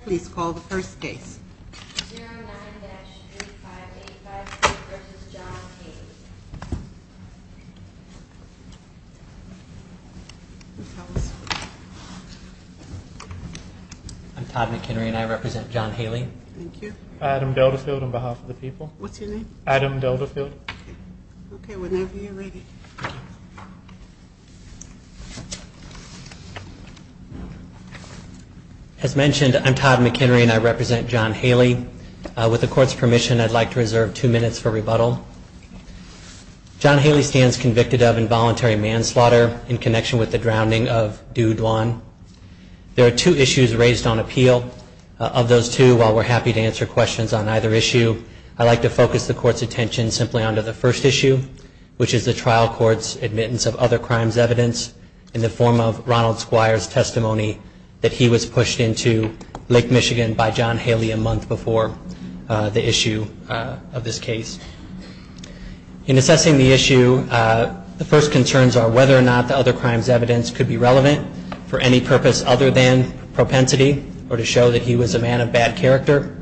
Please call the first case. I'm Todd McHenry and I represent John Haley. Thank you. Adam Delta field on behalf of the people. What's your name? Adam Delta field. Okay, whenever you're ready. As mentioned, I'm Todd McHenry and I represent John Haley. With the court's permission, I'd like to reserve two minutes for rebuttal. John Haley stands convicted of involuntary manslaughter in connection with the drowning of Dewdwan. There are two issues raised on appeal. Of those two, while we're happy to answer questions on either issue, I'd like to focus the court's attention simply on the first issue, which is the trial court's admittance of other crimes evidence in the form of Ronald Squire's testimony that he was pushed into Lake Michigan by John Haley a month before the issue of this case. In assessing the issue, the first concerns are whether or not the other crimes evidence could be relevant for any purpose other than propensity or to show that he was a man of bad character.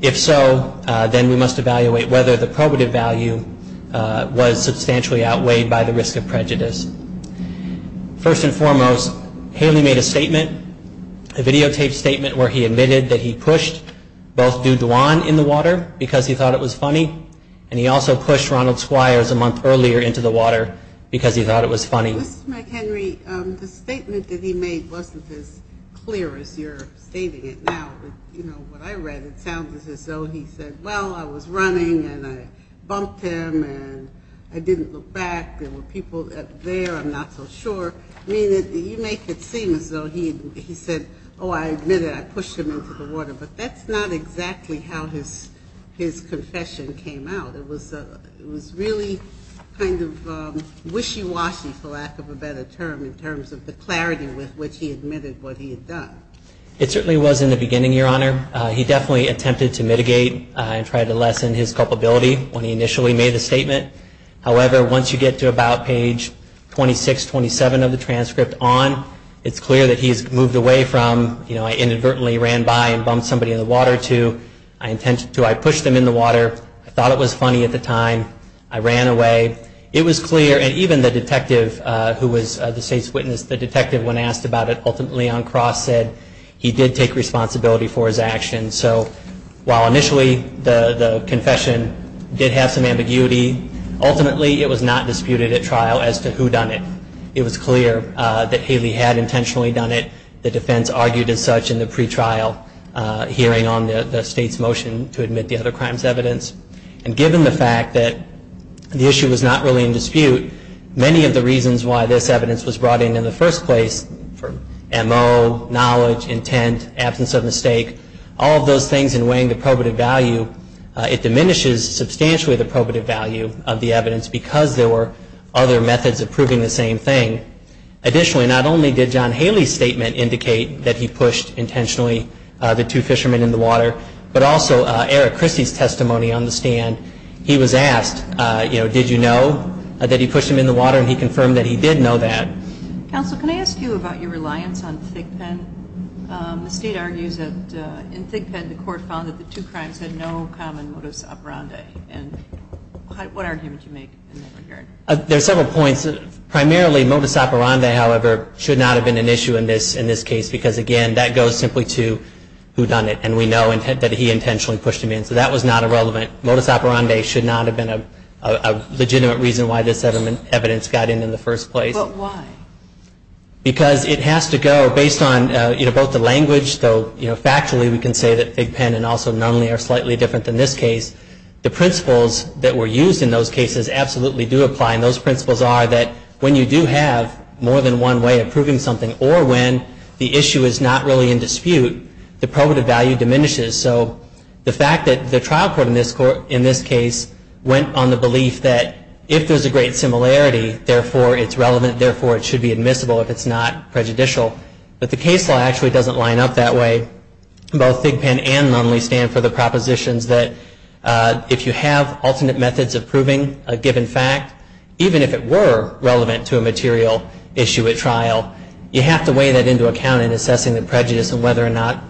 If so, then we must evaluate whether the probative value was substantially outweighed by the risk of prejudice. First and foremost, Haley made a statement, a videotaped statement, where he admitted that he pushed both Dewdwan in the water because he thought it was funny, and he also pushed Ronald Squire a month earlier into the water because he thought it was funny. Mr. McHenry, the statement that he made wasn't as clear as you're stating it now. You know, what I read, it sounded as though he said, well, I was running and I bumped him and I didn't look back, there were people up there, I'm not so sure. I mean, you make it seem as though he said, oh, I admitted, I pushed him into the water, but that's not exactly how his confession came out. It was really kind of wishy-washy, for lack of a better term, in terms of the clarity with which he admitted what he had done. It certainly was in the beginning, Your Honor. He definitely attempted to mitigate and try to lessen his culpability when he initially made the statement. However, once you get to about page 26-27 of the transcript on, it's clear that he's moved away from, you know, I inadvertently ran by and bumped somebody in the water to, I intended to, I pushed them in the water, I thought it was funny at the time, I ran away. It was clear, and even the detective who was the state's witness, the state's motion to admit the other crime's evidence. And given the fact that the issue was not really in dispute, many of the reasons why this evidence was brought in in the first place, for M.O., knowledge, intent, advocacy, and absence of mistake, all of those things in weighing the probative value, it diminishes substantially the probative value of the evidence because there were other methods of proving the same thing. Additionally, not only did John Haley's statement indicate that he pushed intentionally the two fishermen in the water, but also Eric Christie's testimony on the stand, he was asked, you know, did you know that he pushed them in the water, and he confirmed that he did know that. Counsel, can I ask you about your reliance on Thigpen? The state argues that in Thigpen, the court found that the two crimes had no common modus operandi, and what argument do you make in that regard? There are several points. Primarily, modus operandi, however, should not have been an issue in this case because, again, that goes simply to whodunit, and we know that he intentionally pushed them in. So that was not irrelevant. Modus operandi should not have been a legitimate reason why this evidence got in in the first place. But why? Because it has to go, based on, you know, both the language, though, you know, factually we can say that Thigpen and also Nunley are slightly different than this case. The principles that were used in those cases absolutely do apply, and those principles are that when you do have more than one way of proving something, or when the issue is not really in dispute, the probative value diminishes. So the fact that the trial court in this case went on the belief that if there's a great similarity, therefore it's relevant, therefore it should be admissible if it's not prejudicial. But the case law actually doesn't line up that way. Both Thigpen and Nunley stand for the propositions that if you have alternate methods of proving a given fact, even if it were relevant to a material issue at trial, you have to weigh that into account in assessing the prejudice and whether or not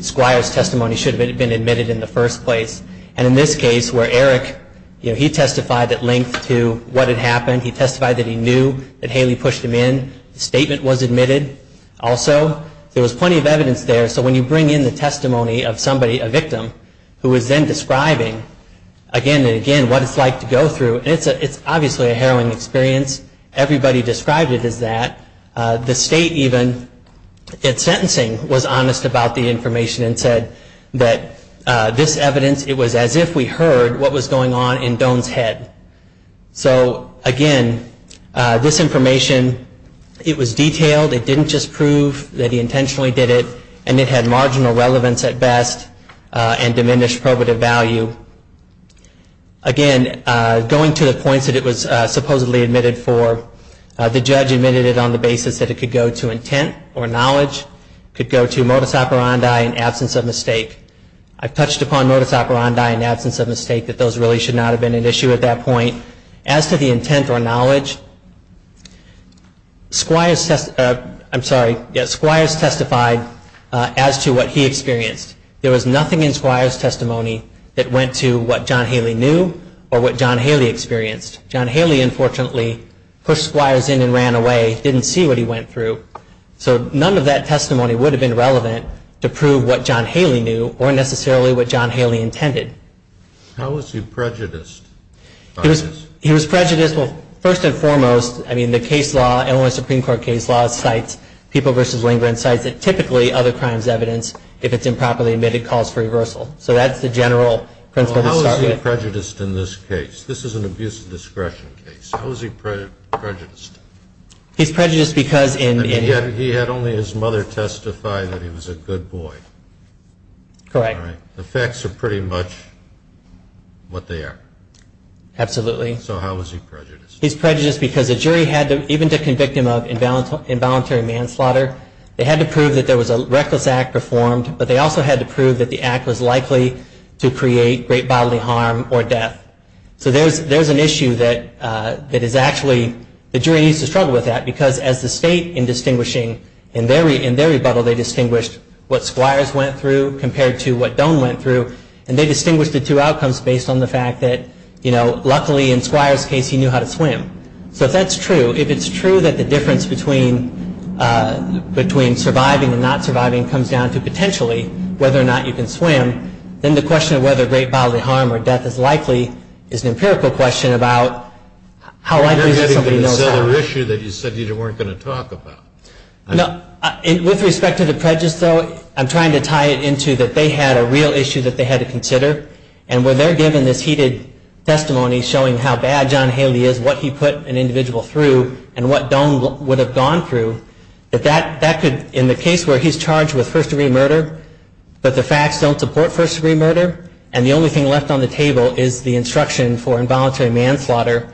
Squire's testimony should have been admitted in the first place. And in this case, where Eric, you know, he testified at length to what had happened, he knew that Haley pushed him in, the statement was admitted also. There was plenty of evidence there, so when you bring in the testimony of somebody, a victim, who is then describing again and again what it's like to go through, it's obviously a harrowing experience. Everybody described it as that. The state even, in sentencing, was honest about the information and said that this evidence, it was as if we heard what was going on in Doan's head. So again, this information, it was detailed, it didn't just prove that he intentionally did it, and it had marginal relevance at best and diminished probative value. Again, going to the points that it was supposedly admitted for, the judge admitted it on the basis that it could go to intent or knowledge, could go to modus operandi and absence of mistake. I've touched upon modus operandi and absence of mistake, that those really should not have been an issue. I'm going to go back to my point. As to the intent or knowledge, Squires testified as to what he experienced. There was nothing in Squires' testimony that went to what John Haley knew or what John Haley experienced. John Haley, unfortunately, pushed Squires in and ran away, didn't see what he went through. So none of that testimony would have been relevant to prove what John Haley knew or necessarily what John Haley intended. How was he prejudiced? He was prejudiced, well, first and foremost, I mean, the case law, Illinois Supreme Court case law, cites people versus lingering, cites that typically other crimes evidence, if it's improperly admitted, calls for reversal. So that's the general principle to start with. How was he prejudiced in this case? This is an abuse of discretion case. How was he prejudiced? He's prejudiced because in... And yet he had only his mother testify that he was a good boy. Correct. The facts are pretty much what they are. Absolutely. So how was he prejudiced? He's prejudiced because the jury had to, even to convict him of involuntary manslaughter, they had to prove that there was a reckless act performed, but they also had to prove that the act was likely to create great bodily harm or death. So there's an issue that is actually, the jury needs to struggle with that because as the state in distinguishing, in their rebuttal they compared to what Doan went through and they distinguished the two outcomes based on the fact that, you know, luckily in Squire's case he knew how to swim. So if that's true, if it's true that the difference between surviving and not surviving comes down to potentially whether or not you can swim, then the question of whether great bodily harm or death is likely is an empirical question about how likely is it that somebody knows how. You're getting into this other issue that you said you weren't going to talk about. With respect to the prejudice, though, I'm trying to tie it into that they had a real issue that they had to consider and when they're given this heated testimony showing how bad John Haley is, what he put an individual through and what Doan would have gone through, that that could, in the case where he's charged with first degree murder, but the facts don't support first degree murder and the only thing left on the table is the instruction for involuntary manslaughter,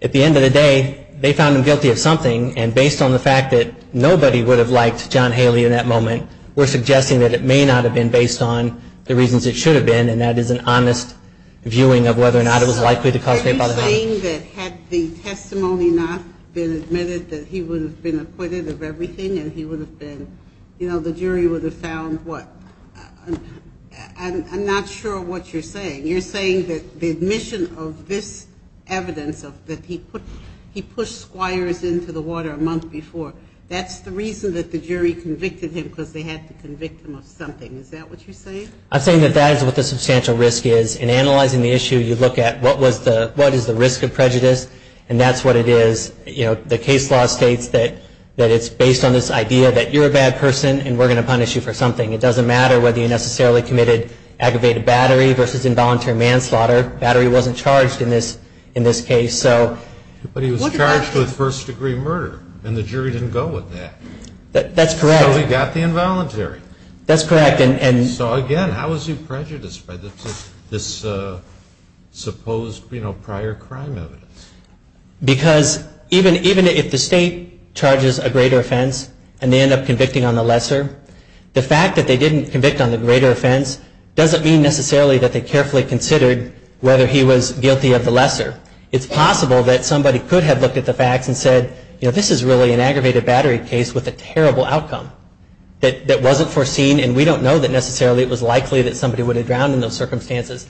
at the end of the day they found him guilty of manslaughter. And based on the fact that nobody would have liked John Haley in that moment, we're suggesting that it may not have been based on the reasons it should have been and that is an honest viewing of whether or not it was likely to cause great bodily harm. So are you saying that had the testimony not been admitted that he would have been acquitted of everything and he would have been, you know, the jury would have found what? I'm not sure what you're saying. You're saying that the admission of this evidence that he pushed squires into the water a month before, that's the reason that the jury convicted him because they had to convict him of something. Is that what you're saying? I'm saying that that is what the substantial risk is. In analyzing the issue, you look at what is the risk of prejudice and that's what it is. You know, the case law states that it's based on this idea that you're a bad person and we're going to punish you for something. It doesn't matter whether you necessarily committed aggravated battery versus involuntary manslaughter. Battery wasn't charged in this case. But he was charged with first degree murder and the jury didn't go with that. That's correct. So he got the involuntary. That's correct. So again, how is he prejudiced by this supposed prior crime evidence? Because even if the state charges a greater offense and they end up convicting on the lesser, the fact that they didn't convict on the greater offense doesn't mean necessarily that they carefully considered whether he was guilty of the lesser. It's possible that somebody could have looked at the facts and said, you know, this is really an aggravated battery case with a terrible outcome that wasn't foreseen and we don't know that necessarily it was likely that somebody would have drowned in those circumstances.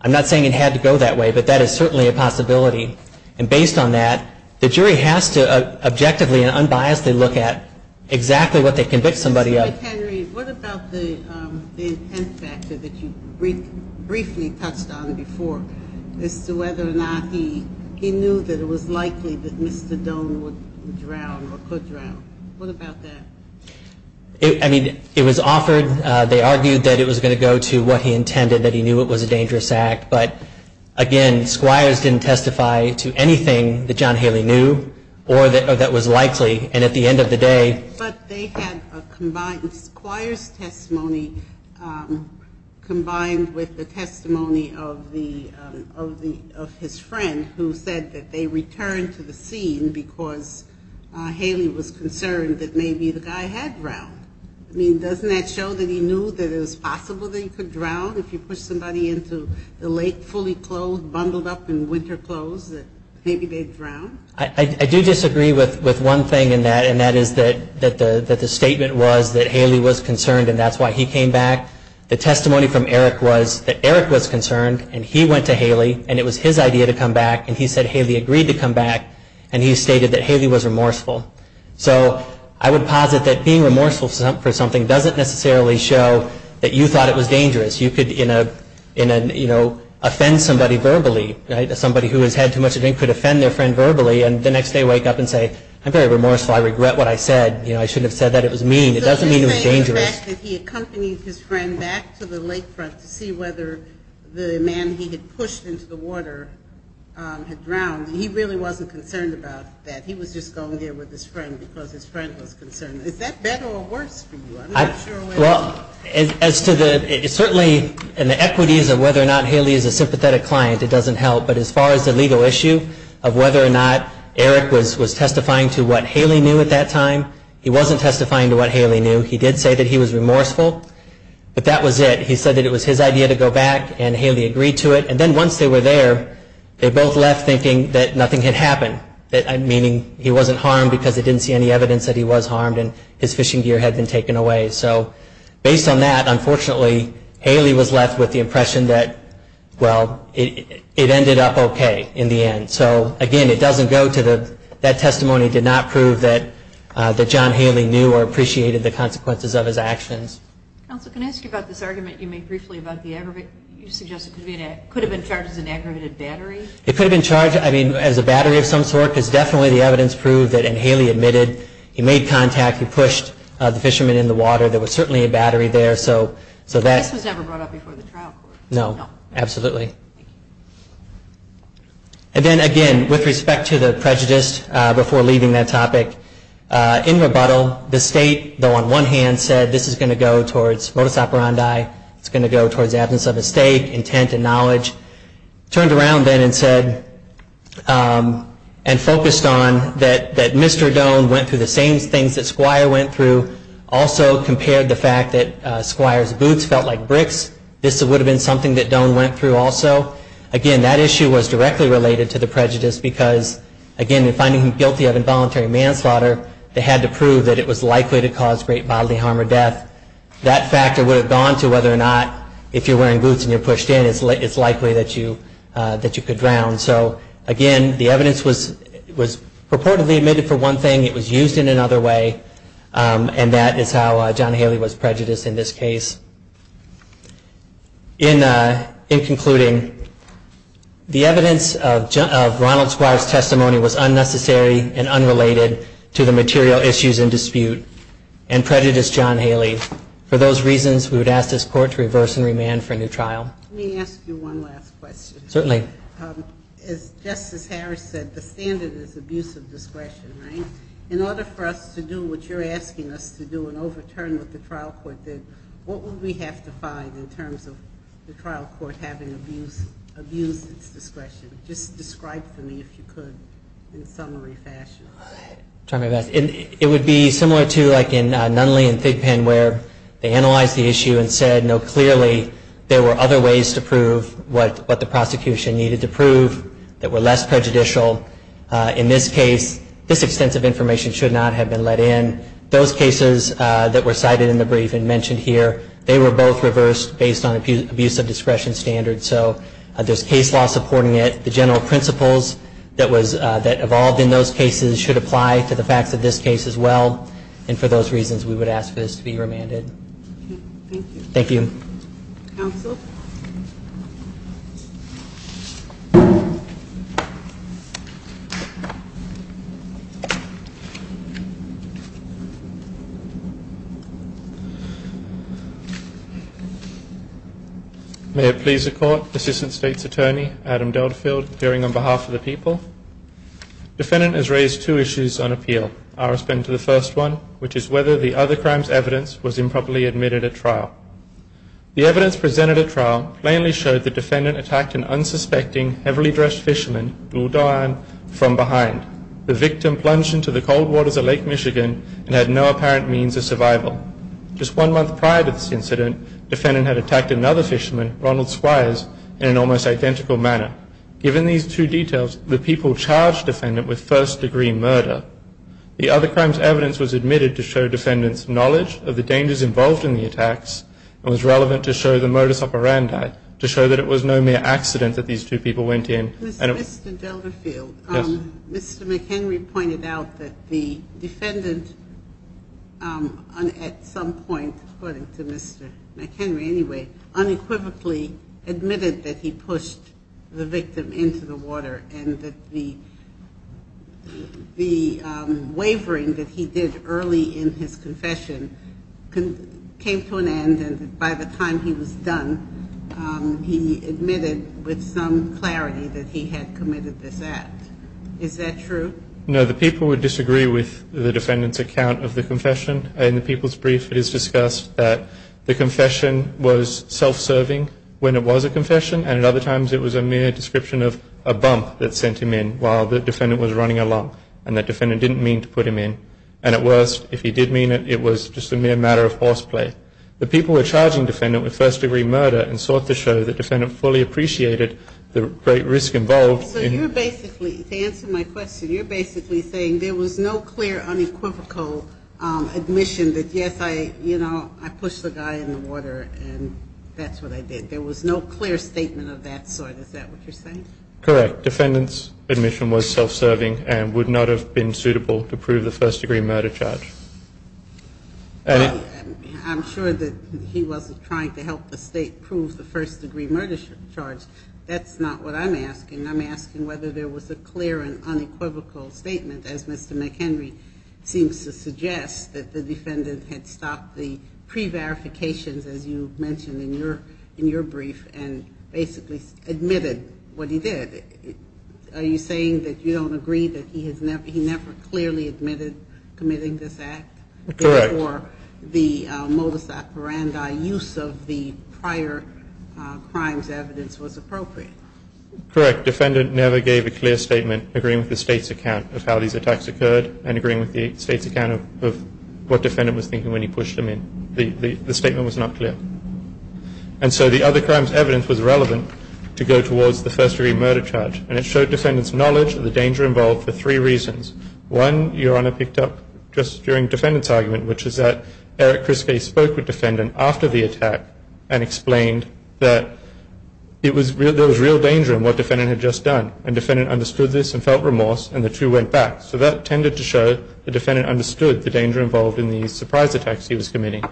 I'm not saying it had to go that way, but that is certainly a possibility. And based on that, the jury has to objectively and unbiasedly look at exactly what they convict somebody of. All right, Henry, what about the intent factor that you briefly touched on before as to whether or not he knew that it was likely that Mr. Doan would drown or could drown? What about that? I mean, it was offered. They argued that it was going to go to what he intended, that he knew it was a dangerous act. But again, squires didn't testify to anything that John Haley knew or that was likely. And at the end of the day But they had a combined squires testimony combined with the testimony of his friend who said that they returned to the scene because Haley was concerned that maybe the guy had drowned. I mean, doesn't that show that he knew that it was possible that he could drown if you push somebody into the lake fully clothed, bundled up in winter clothes, that maybe they'd drown? I do disagree with one thing in that, and that is that the statement was that Haley was concerned, and that's why he came back. The testimony from Eric was that Eric was concerned, and he went to Haley, and it was his idea to come back, and he said Haley agreed to come back, and he stated that Haley was remorseful. So I would posit that being remorseful for something doesn't necessarily show that you thought it was dangerous. You could, you know, offend somebody verbally. Right? Somebody who has had too much to drink could offend their friend verbally, and the next day wake up and say, I'm very remorseful. I regret what I said. You know, I shouldn't have said that. It was mean. It doesn't mean it was dangerous. So you're saying the fact that he accompanied his friend back to the lake front to see whether the man he had pushed into the water had drowned, he really wasn't concerned about that. He was just going there with his friend because his friend was concerned. Is that better or worse for you? I'm not sure whether. Well, as to the, certainly in the equities of whether or not Haley is a legal issue of whether or not Eric was testifying to what Haley knew at that time, he wasn't testifying to what Haley knew. He did say that he was remorseful, but that was it. He said that it was his idea to go back, and Haley agreed to it. And then once they were there, they both left thinking that nothing had happened, meaning he wasn't harmed because they didn't see any evidence that he was harmed and his fishing gear had been taken away. So based on that, unfortunately, Haley was left with the impression that, well, it ended up okay in the end. So, again, it doesn't go to the, that testimony did not prove that John Haley knew or appreciated the consequences of his actions. Counsel, can I ask you about this argument you made briefly about the aggravated, you suggested it could have been charged as an aggravated battery? It could have been charged, I mean, as a battery of some sort because definitely the evidence proved that, and Haley admitted, he made contact, he pushed the fisherman in the water. There was certainly a battery there, so that. This was never brought up before the trial court? No, absolutely. And then, again, with respect to the prejudice before leaving that topic, in rebuttal, the state, though on one hand said this is going to go towards modus operandi, it's going to go towards absence of a stake, intent and knowledge, turned around then and said, and focused on, that Mr. Doan went through the same things that Squire went through, also compared the fact that Squire's boots felt like bricks, this would have been something that Doan went through, also. Again, that issue was directly related to the prejudice because, again, in finding him guilty of involuntary manslaughter, they had to prove that it was likely to cause great bodily harm or death. That factor would have gone to whether or not if you're wearing boots and you're pushed in, it's likely that you could drown. So, again, the evidence was purportedly admitted for one thing, it was used in another way, and that is how John Haley was prejudiced in this case. In concluding, the evidence of Ronald Squire's testimony was unnecessary and unrelated to the material issues in dispute and prejudiced John Haley. For those reasons, we would ask this Court to reverse and remand for a new trial. Let me ask you one last question. Certainly. As Justice Harris said, the standard is abuse of discretion, right? In order for us to do what you're asking us to do and overturn what the trial court did, what would we have to find in terms of the trial court having abused its discretion? Just describe for me, if you could, in a summary fashion. I'll try my best. It would be similar to like in Nunley and Thigpen where they analyzed the issue and said, no, clearly there were other ways to prove what the prosecution needed to prove that were less prejudicial. In this case, this extensive information should not have been let in. Those cases that were cited in the brief and mentioned here, they were both reversed based on abuse of discretion standards. So there's case law supporting it. The general principles that evolved in those cases should apply to the facts of this case as well. And for those reasons, we would ask this to be remanded. Thank you. Thank you. Counsel? May it please the court, Assistant State's Attorney, Adam Delfield, appearing on behalf of the people. Defendant has raised two issues on appeal. I'll respond to the first one, which is whether the other crime's evidence was improperly admitted at trial. The evidence presented at trial plainly showed the defendant attacked an unsuspecting, heavily dressed fisherman, Gul Doan, from behind. The victim plunged into the cold waters of Lake Michigan and had no apparent means of survival. Just one month prior to this incident, defendant had attacked another fisherman, Ronald Squires, in an almost identical manner. Given these two details, the people charged defendant with first degree murder. The other crime's evidence was admitted to show defendant's knowledge of the case and was relevant to show the modus operandi, to show that it was no mere accident that these two people went in. Mr. Delfield. Yes. Mr. McHenry pointed out that the defendant, at some point, according to Mr. McHenry anyway, unequivocally admitted that he pushed the victim into the water and that the time he was done, he admitted with some clarity that he had committed this act. Is that true? No. The people would disagree with the defendant's account of the confession. In the people's brief, it is discussed that the confession was self-serving when it was a confession. And at other times, it was a mere description of a bump that sent him in while the defendant was running along. And the defendant didn't mean to put him in. And at worst, if he did mean it, it was just a mere matter of horseplay. The people were charging the defendant with first-degree murder and sought to show the defendant fully appreciated the great risk involved. So you're basically, to answer my question, you're basically saying there was no clear unequivocal admission that, yes, I, you know, I pushed the guy in the water and that's what I did. There was no clear statement of that sort. Is that what you're saying? Correct. The defendant's admission was self-serving and would not have been suitable to prove the first-degree murder charge. I'm sure that he wasn't trying to help the state prove the first-degree murder charge. That's not what I'm asking. I'm asking whether there was a clear and unequivocal statement, as Mr. McHenry seems to suggest, that the defendant had stopped the pre-verifications, as you mentioned in your brief, and basically admitted what he did. Are you saying that you don't agree that he has never, never clearly admitted committing this act? Correct. Before the modus operandi use of the prior crimes evidence was appropriate? Correct. Defendant never gave a clear statement agreeing with the state's account of how these attacks occurred and agreeing with the state's account of what defendant was thinking when he pushed him in. The statement was not clear. And so the other crimes evidence was relevant to go towards the first-degree murder charge, and it showed defendant's knowledge of the danger involved for three reasons. One, Your Honor picked up just during defendant's argument, which is that Eric Criskay spoke with defendant after the attack and explained that there was real danger in what defendant had just done, and defendant understood this and felt remorse, and the two went back. So that tended to show the defendant understood the danger involved in the surprise attacks he was committing.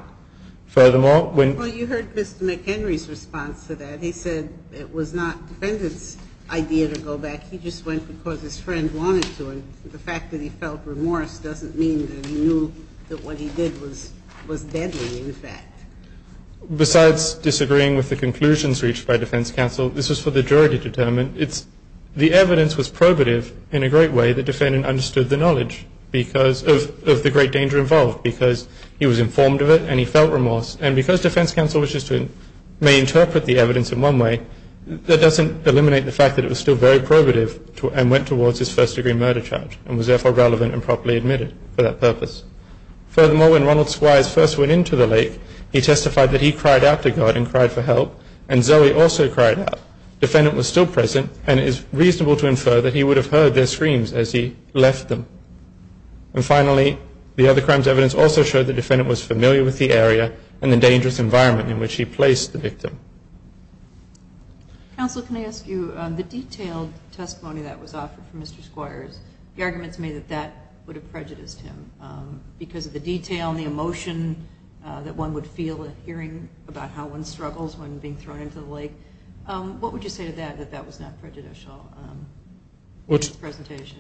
Furthermore, when you heard Mr. McHenry's response to that, he said it was not defendant's idea to go back. He just went because his friend wanted to. And the fact that he felt remorse doesn't mean that he knew that what he did was deadly, in fact. Besides disagreeing with the conclusions reached by defense counsel, this was for the jury to determine. It's the evidence was probative in a great way that defendant understood the knowledge because of the great danger involved, because he was informed of it and he felt remorse. And because defense counsel wishes to may interpret the evidence in one way, that doesn't eliminate the fact that it was still very probative and went towards his first degree murder charge and was therefore relevant and properly admitted for that purpose. Furthermore, when Ronald Squires first went into the lake, he testified that he cried out to God and cried for help, and Zoe also cried out. Defendant was still present and it is reasonable to infer that he would have heard their screams as he left them. And finally, the other crimes evidence also showed the defendant was familiar with the area and the dangerous environment in which he placed the victim. Counsel, can I ask you, the detailed testimony that was offered from Mr. Squires, the arguments made that that would have prejudiced him because of the detail and the emotion that one would feel hearing about how one struggles when being thrown into the lake. What would you say to that, that that was not prejudicial in its presentation?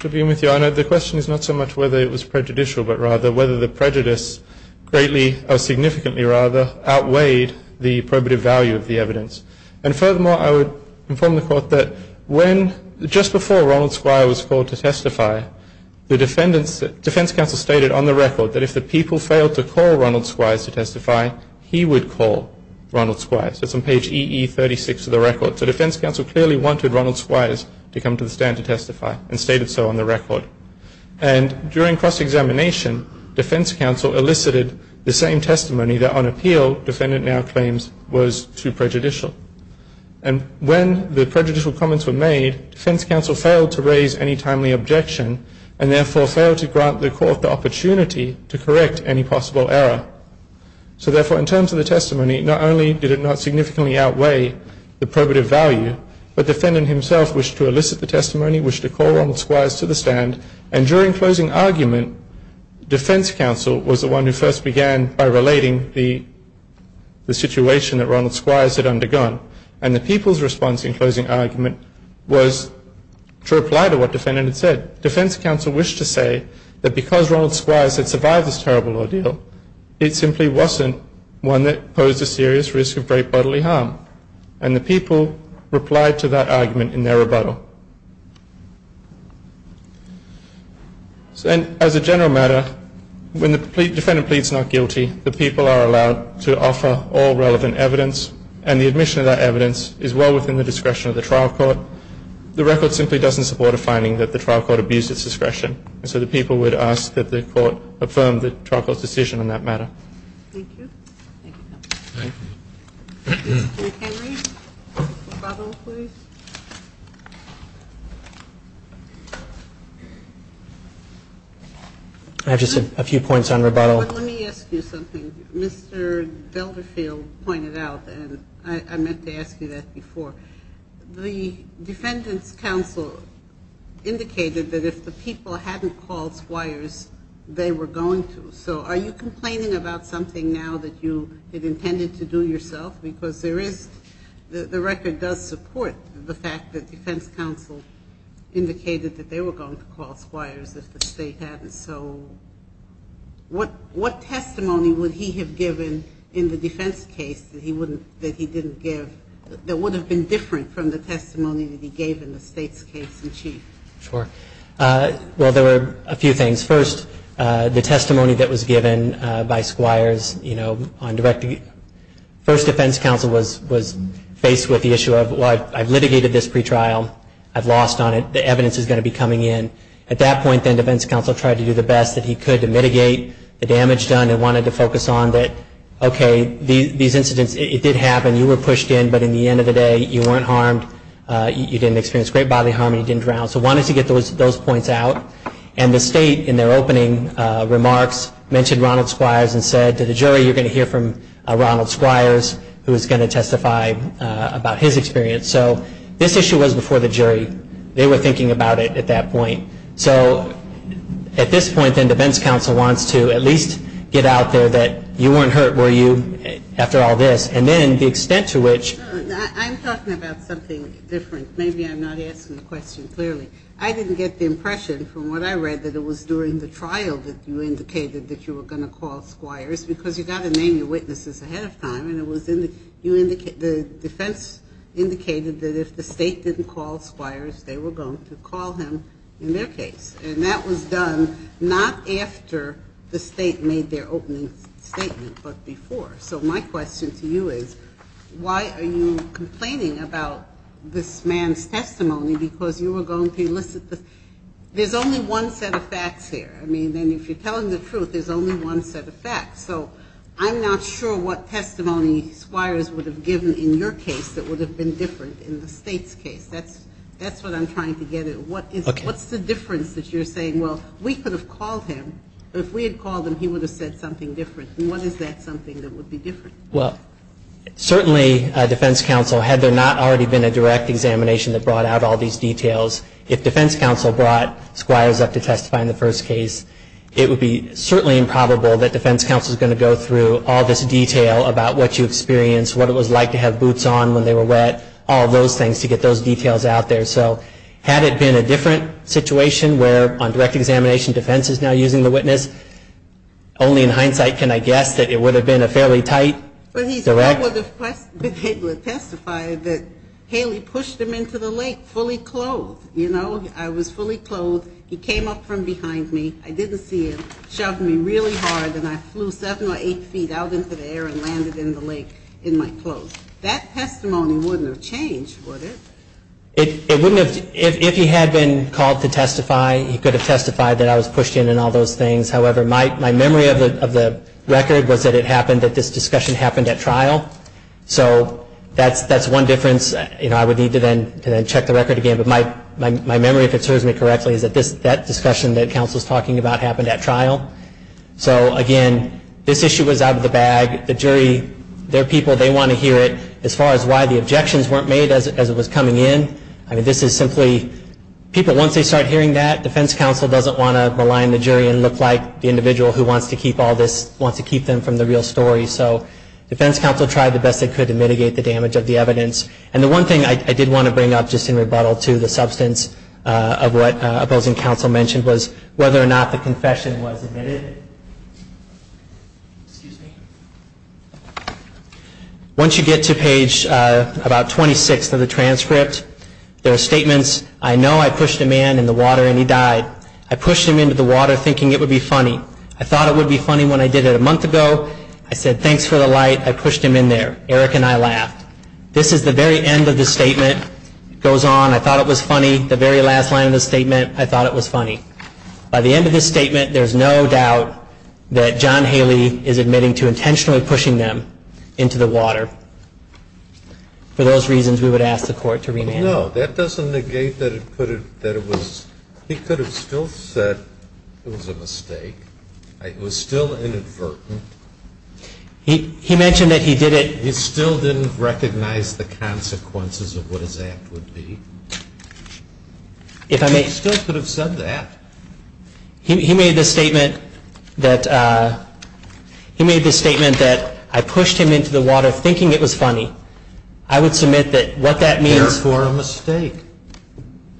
To begin with, Your Honor, the question is not so much whether it was prejudicial but rather whether the prejudice greatly or significantly rather outweighed the probative value of the evidence. And furthermore, I would inform the court that when just before Ronald Squires was called to testify, the defense counsel stated on the record that if the people failed to call Ronald Squires to testify, he would call Ronald Squires. It's on page EE36 of the record. So defense counsel clearly wanted Ronald Squires to come to the stand to testify and stated so on the record. And during cross-examination, defense counsel elicited the same testimony that on appeal defendant now claims was too prejudicial. And when the prejudicial comments were made, defense counsel failed to raise any timely objection and therefore failed to grant the court the opportunity to correct any possible error. So therefore, in terms of the testimony, not only did it not significantly outweigh the probative value, but defendant himself wished to elicit the testimony, wished to call Ronald Squires to the stand, and during closing argument, defense counsel was the one who first began by relating the situation that Ronald Squires had undergone. And the people's response in closing argument was to reply to what defendant had said. Defense counsel wished to say that because Ronald Squires had survived this terrible ordeal, it simply wasn't one that posed a serious risk of great bodily harm. And the people replied to that argument in their rebuttal. And as a general matter, when the defendant pleads not guilty, the people are allowed to offer all relevant evidence. And the admission of that evidence is well within the discretion of the trial court. The record simply doesn't support a finding that the trial court abused its discretion. And so the people would ask that the court affirm the trial court's decision on that matter. Thank you. Thank you, counsel. Thank you. Mr. Henry? Rebuttal, please. I have just a few points on rebuttal. But let me ask you something. Mr. Delderfield pointed out, and I meant to ask you that before, the defendant's counsel indicated that if the people hadn't called Squires, they were going to. So are you complaining about something now that you had intended to do yourself? Because there is the record does support the fact that defense counsel indicated that they were going to call Squires if the state hadn't. So what testimony would he have given in the defense case that he didn't give that would have been different from the testimony that he gave in the state's case in chief? Sure. Well, there were a few things. First, the testimony that was given by Squires, you know, first defense counsel was faced with the issue of, well, I've litigated this pretrial. I've lost on it. The evidence is going to be coming in. At that point, then, defense counsel tried to do the best that he could to mitigate the damage done and wanted to focus on that, okay, these incidents, it did happen. You were pushed in. But in the end of the day, you weren't harmed. You didn't experience great bodily harm. You didn't drown. So wanted to get those points out. And the state, in their opening remarks, mentioned Ronald Squires and said to the jury, you're going to hear from Ronald Squires, who is going to testify about his experience. So this issue was before the jury. They were thinking about it at that point. So at this point, then, defense counsel wants to at least get out there that you weren't hurt, were you, after all this, and then the extent to which. I'm talking about something different. Maybe I'm not asking the question clearly. I didn't get the impression, from what I read, that it was during the trial that you indicated that you were going to call Squires because you've got to name your witnesses ahead of time. And the defense indicated that if the state didn't call Squires, they were going to call him in their case. And that was done not after the state made their opening statement, but before. So my question to you is, why are you complaining about this man's testimony because you were going to elicit this? There's only one set of facts here. I mean, and if you're telling the truth, there's only one set of facts. So I'm not sure what testimony Squires would have given in your case that would have been different in the state's case. That's what I'm trying to get at. What's the difference that you're saying, well, we could have called him, but if we had called him, he would have said something different. And what is that something that would be different? Well, certainly, defense counsel, had there not already been a direct examination that brought out all these details, if defense counsel brought Squires up to testify in the first case, it would be certainly improbable that defense counsel is going to go through all this detail about what you experienced, what it was like to have boots on when they were wet, all those things to get those details out there. So had it been a different situation where on direct examination defense is now using the witness, only in hindsight can I guess that it would have been a fairly tight, direct. I would have been able to testify that Haley pushed him into the lake fully clothed, you know. I was fully clothed. He came up from behind me. I didn't see him. Shoved me really hard, and I flew seven or eight feet out into the air and landed in the lake in my clothes. That testimony wouldn't have changed, would it? It wouldn't have. If he had been called to testify, he could have testified that I was pushed in and all those things. However, my memory of the record was that it happened that this discussion happened at trial. So that's one difference. I would need to then check the record again. But my memory, if it serves me correctly, is that that discussion that counsel is talking about happened at trial. So, again, this issue was out of the bag. The jury, their people, they want to hear it. As far as why the objections weren't made as it was coming in, I mean, this is simply, once they start hearing that, defense counsel doesn't want to malign the jury and look like the individual who wants to keep them from the real story. So defense counsel tried the best they could to mitigate the damage of the evidence. And the one thing I did want to bring up, just in rebuttal to the substance of what opposing counsel mentioned, was whether or not the confession was admitted. Excuse me. Once you get to page about 26 of the transcript, there are statements, I know I pushed a man in the water and he died. I pushed him into the water thinking it would be funny. I thought it would be funny when I did it a month ago. I said thanks for the light. I pushed him in there. Eric and I laughed. This is the very end of the statement. It goes on, I thought it was funny, the very last line of the statement, I thought it was funny. By the end of this statement, there's no doubt that John Haley is admitting to intentionally pushing them into the water. For those reasons, we would ask the court to remand him. No, that doesn't negate that he could have still said it was a mistake. It was still inadvertent. He mentioned that he did it. He still didn't recognize the consequences of what his act would be. He still could have said that. He made the statement that I pushed him into the water thinking it was funny. Therefore, a mistake.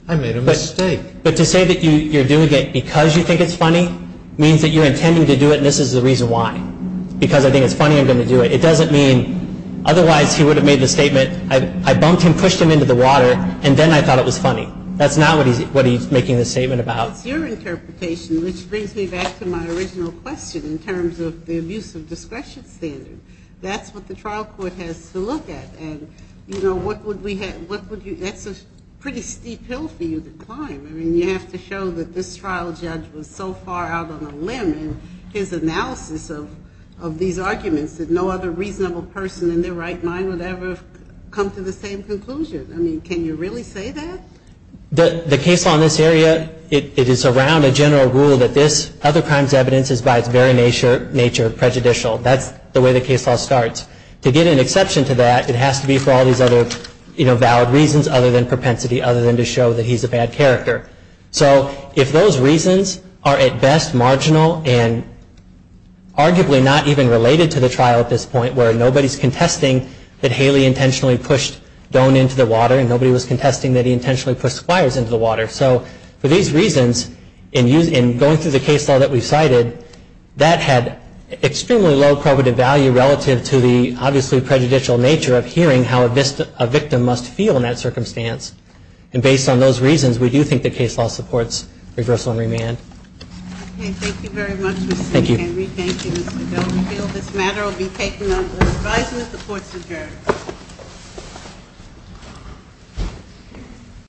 I made a mistake. But to say that you're doing it because you think it's funny means that you're intending to do it and this is the reason why. Because I think it's funny, I'm going to do it. It doesn't mean otherwise he would have made the statement, I bumped him, pushed him into the water, and then I thought it was funny. That's not what he's making the statement about. It's your interpretation, which brings me back to my original question in terms of the abuse of discretion standard. That's what the trial court has to look at. And, you know, what would we have, what would you, that's a pretty steep hill for you to climb. I mean, you have to show that this trial judge was so far out on a limb in his analysis of these arguments that no other reasonable person in their right mind would ever come to the same conclusion. I mean, can you really say that? The case law in this area, it is around a general rule that this other crime's evidence is by its very nature prejudicial. That's the way the case law starts. To get an exception to that, it has to be for all these other valid reasons other than propensity, other than to show that he's a bad character. So if those reasons are at best marginal and arguably not even related to the trial at this point, where nobody's contesting that Haley intentionally pushed Doan into the water and nobody was contesting that he intentionally pushed Squires into the water. So for these reasons, in going through the case law that we've cited, that had extremely low probability value relative to the obviously prejudicial nature of hearing how a victim must feel in that circumstance. And based on those reasons, we do think that case law supports reversal and remand. Okay, thank you very much, Mr. Cain. Thank you. And we thank you, Mr. Doan. We feel this matter will be taken under advisement. The court's adjourned.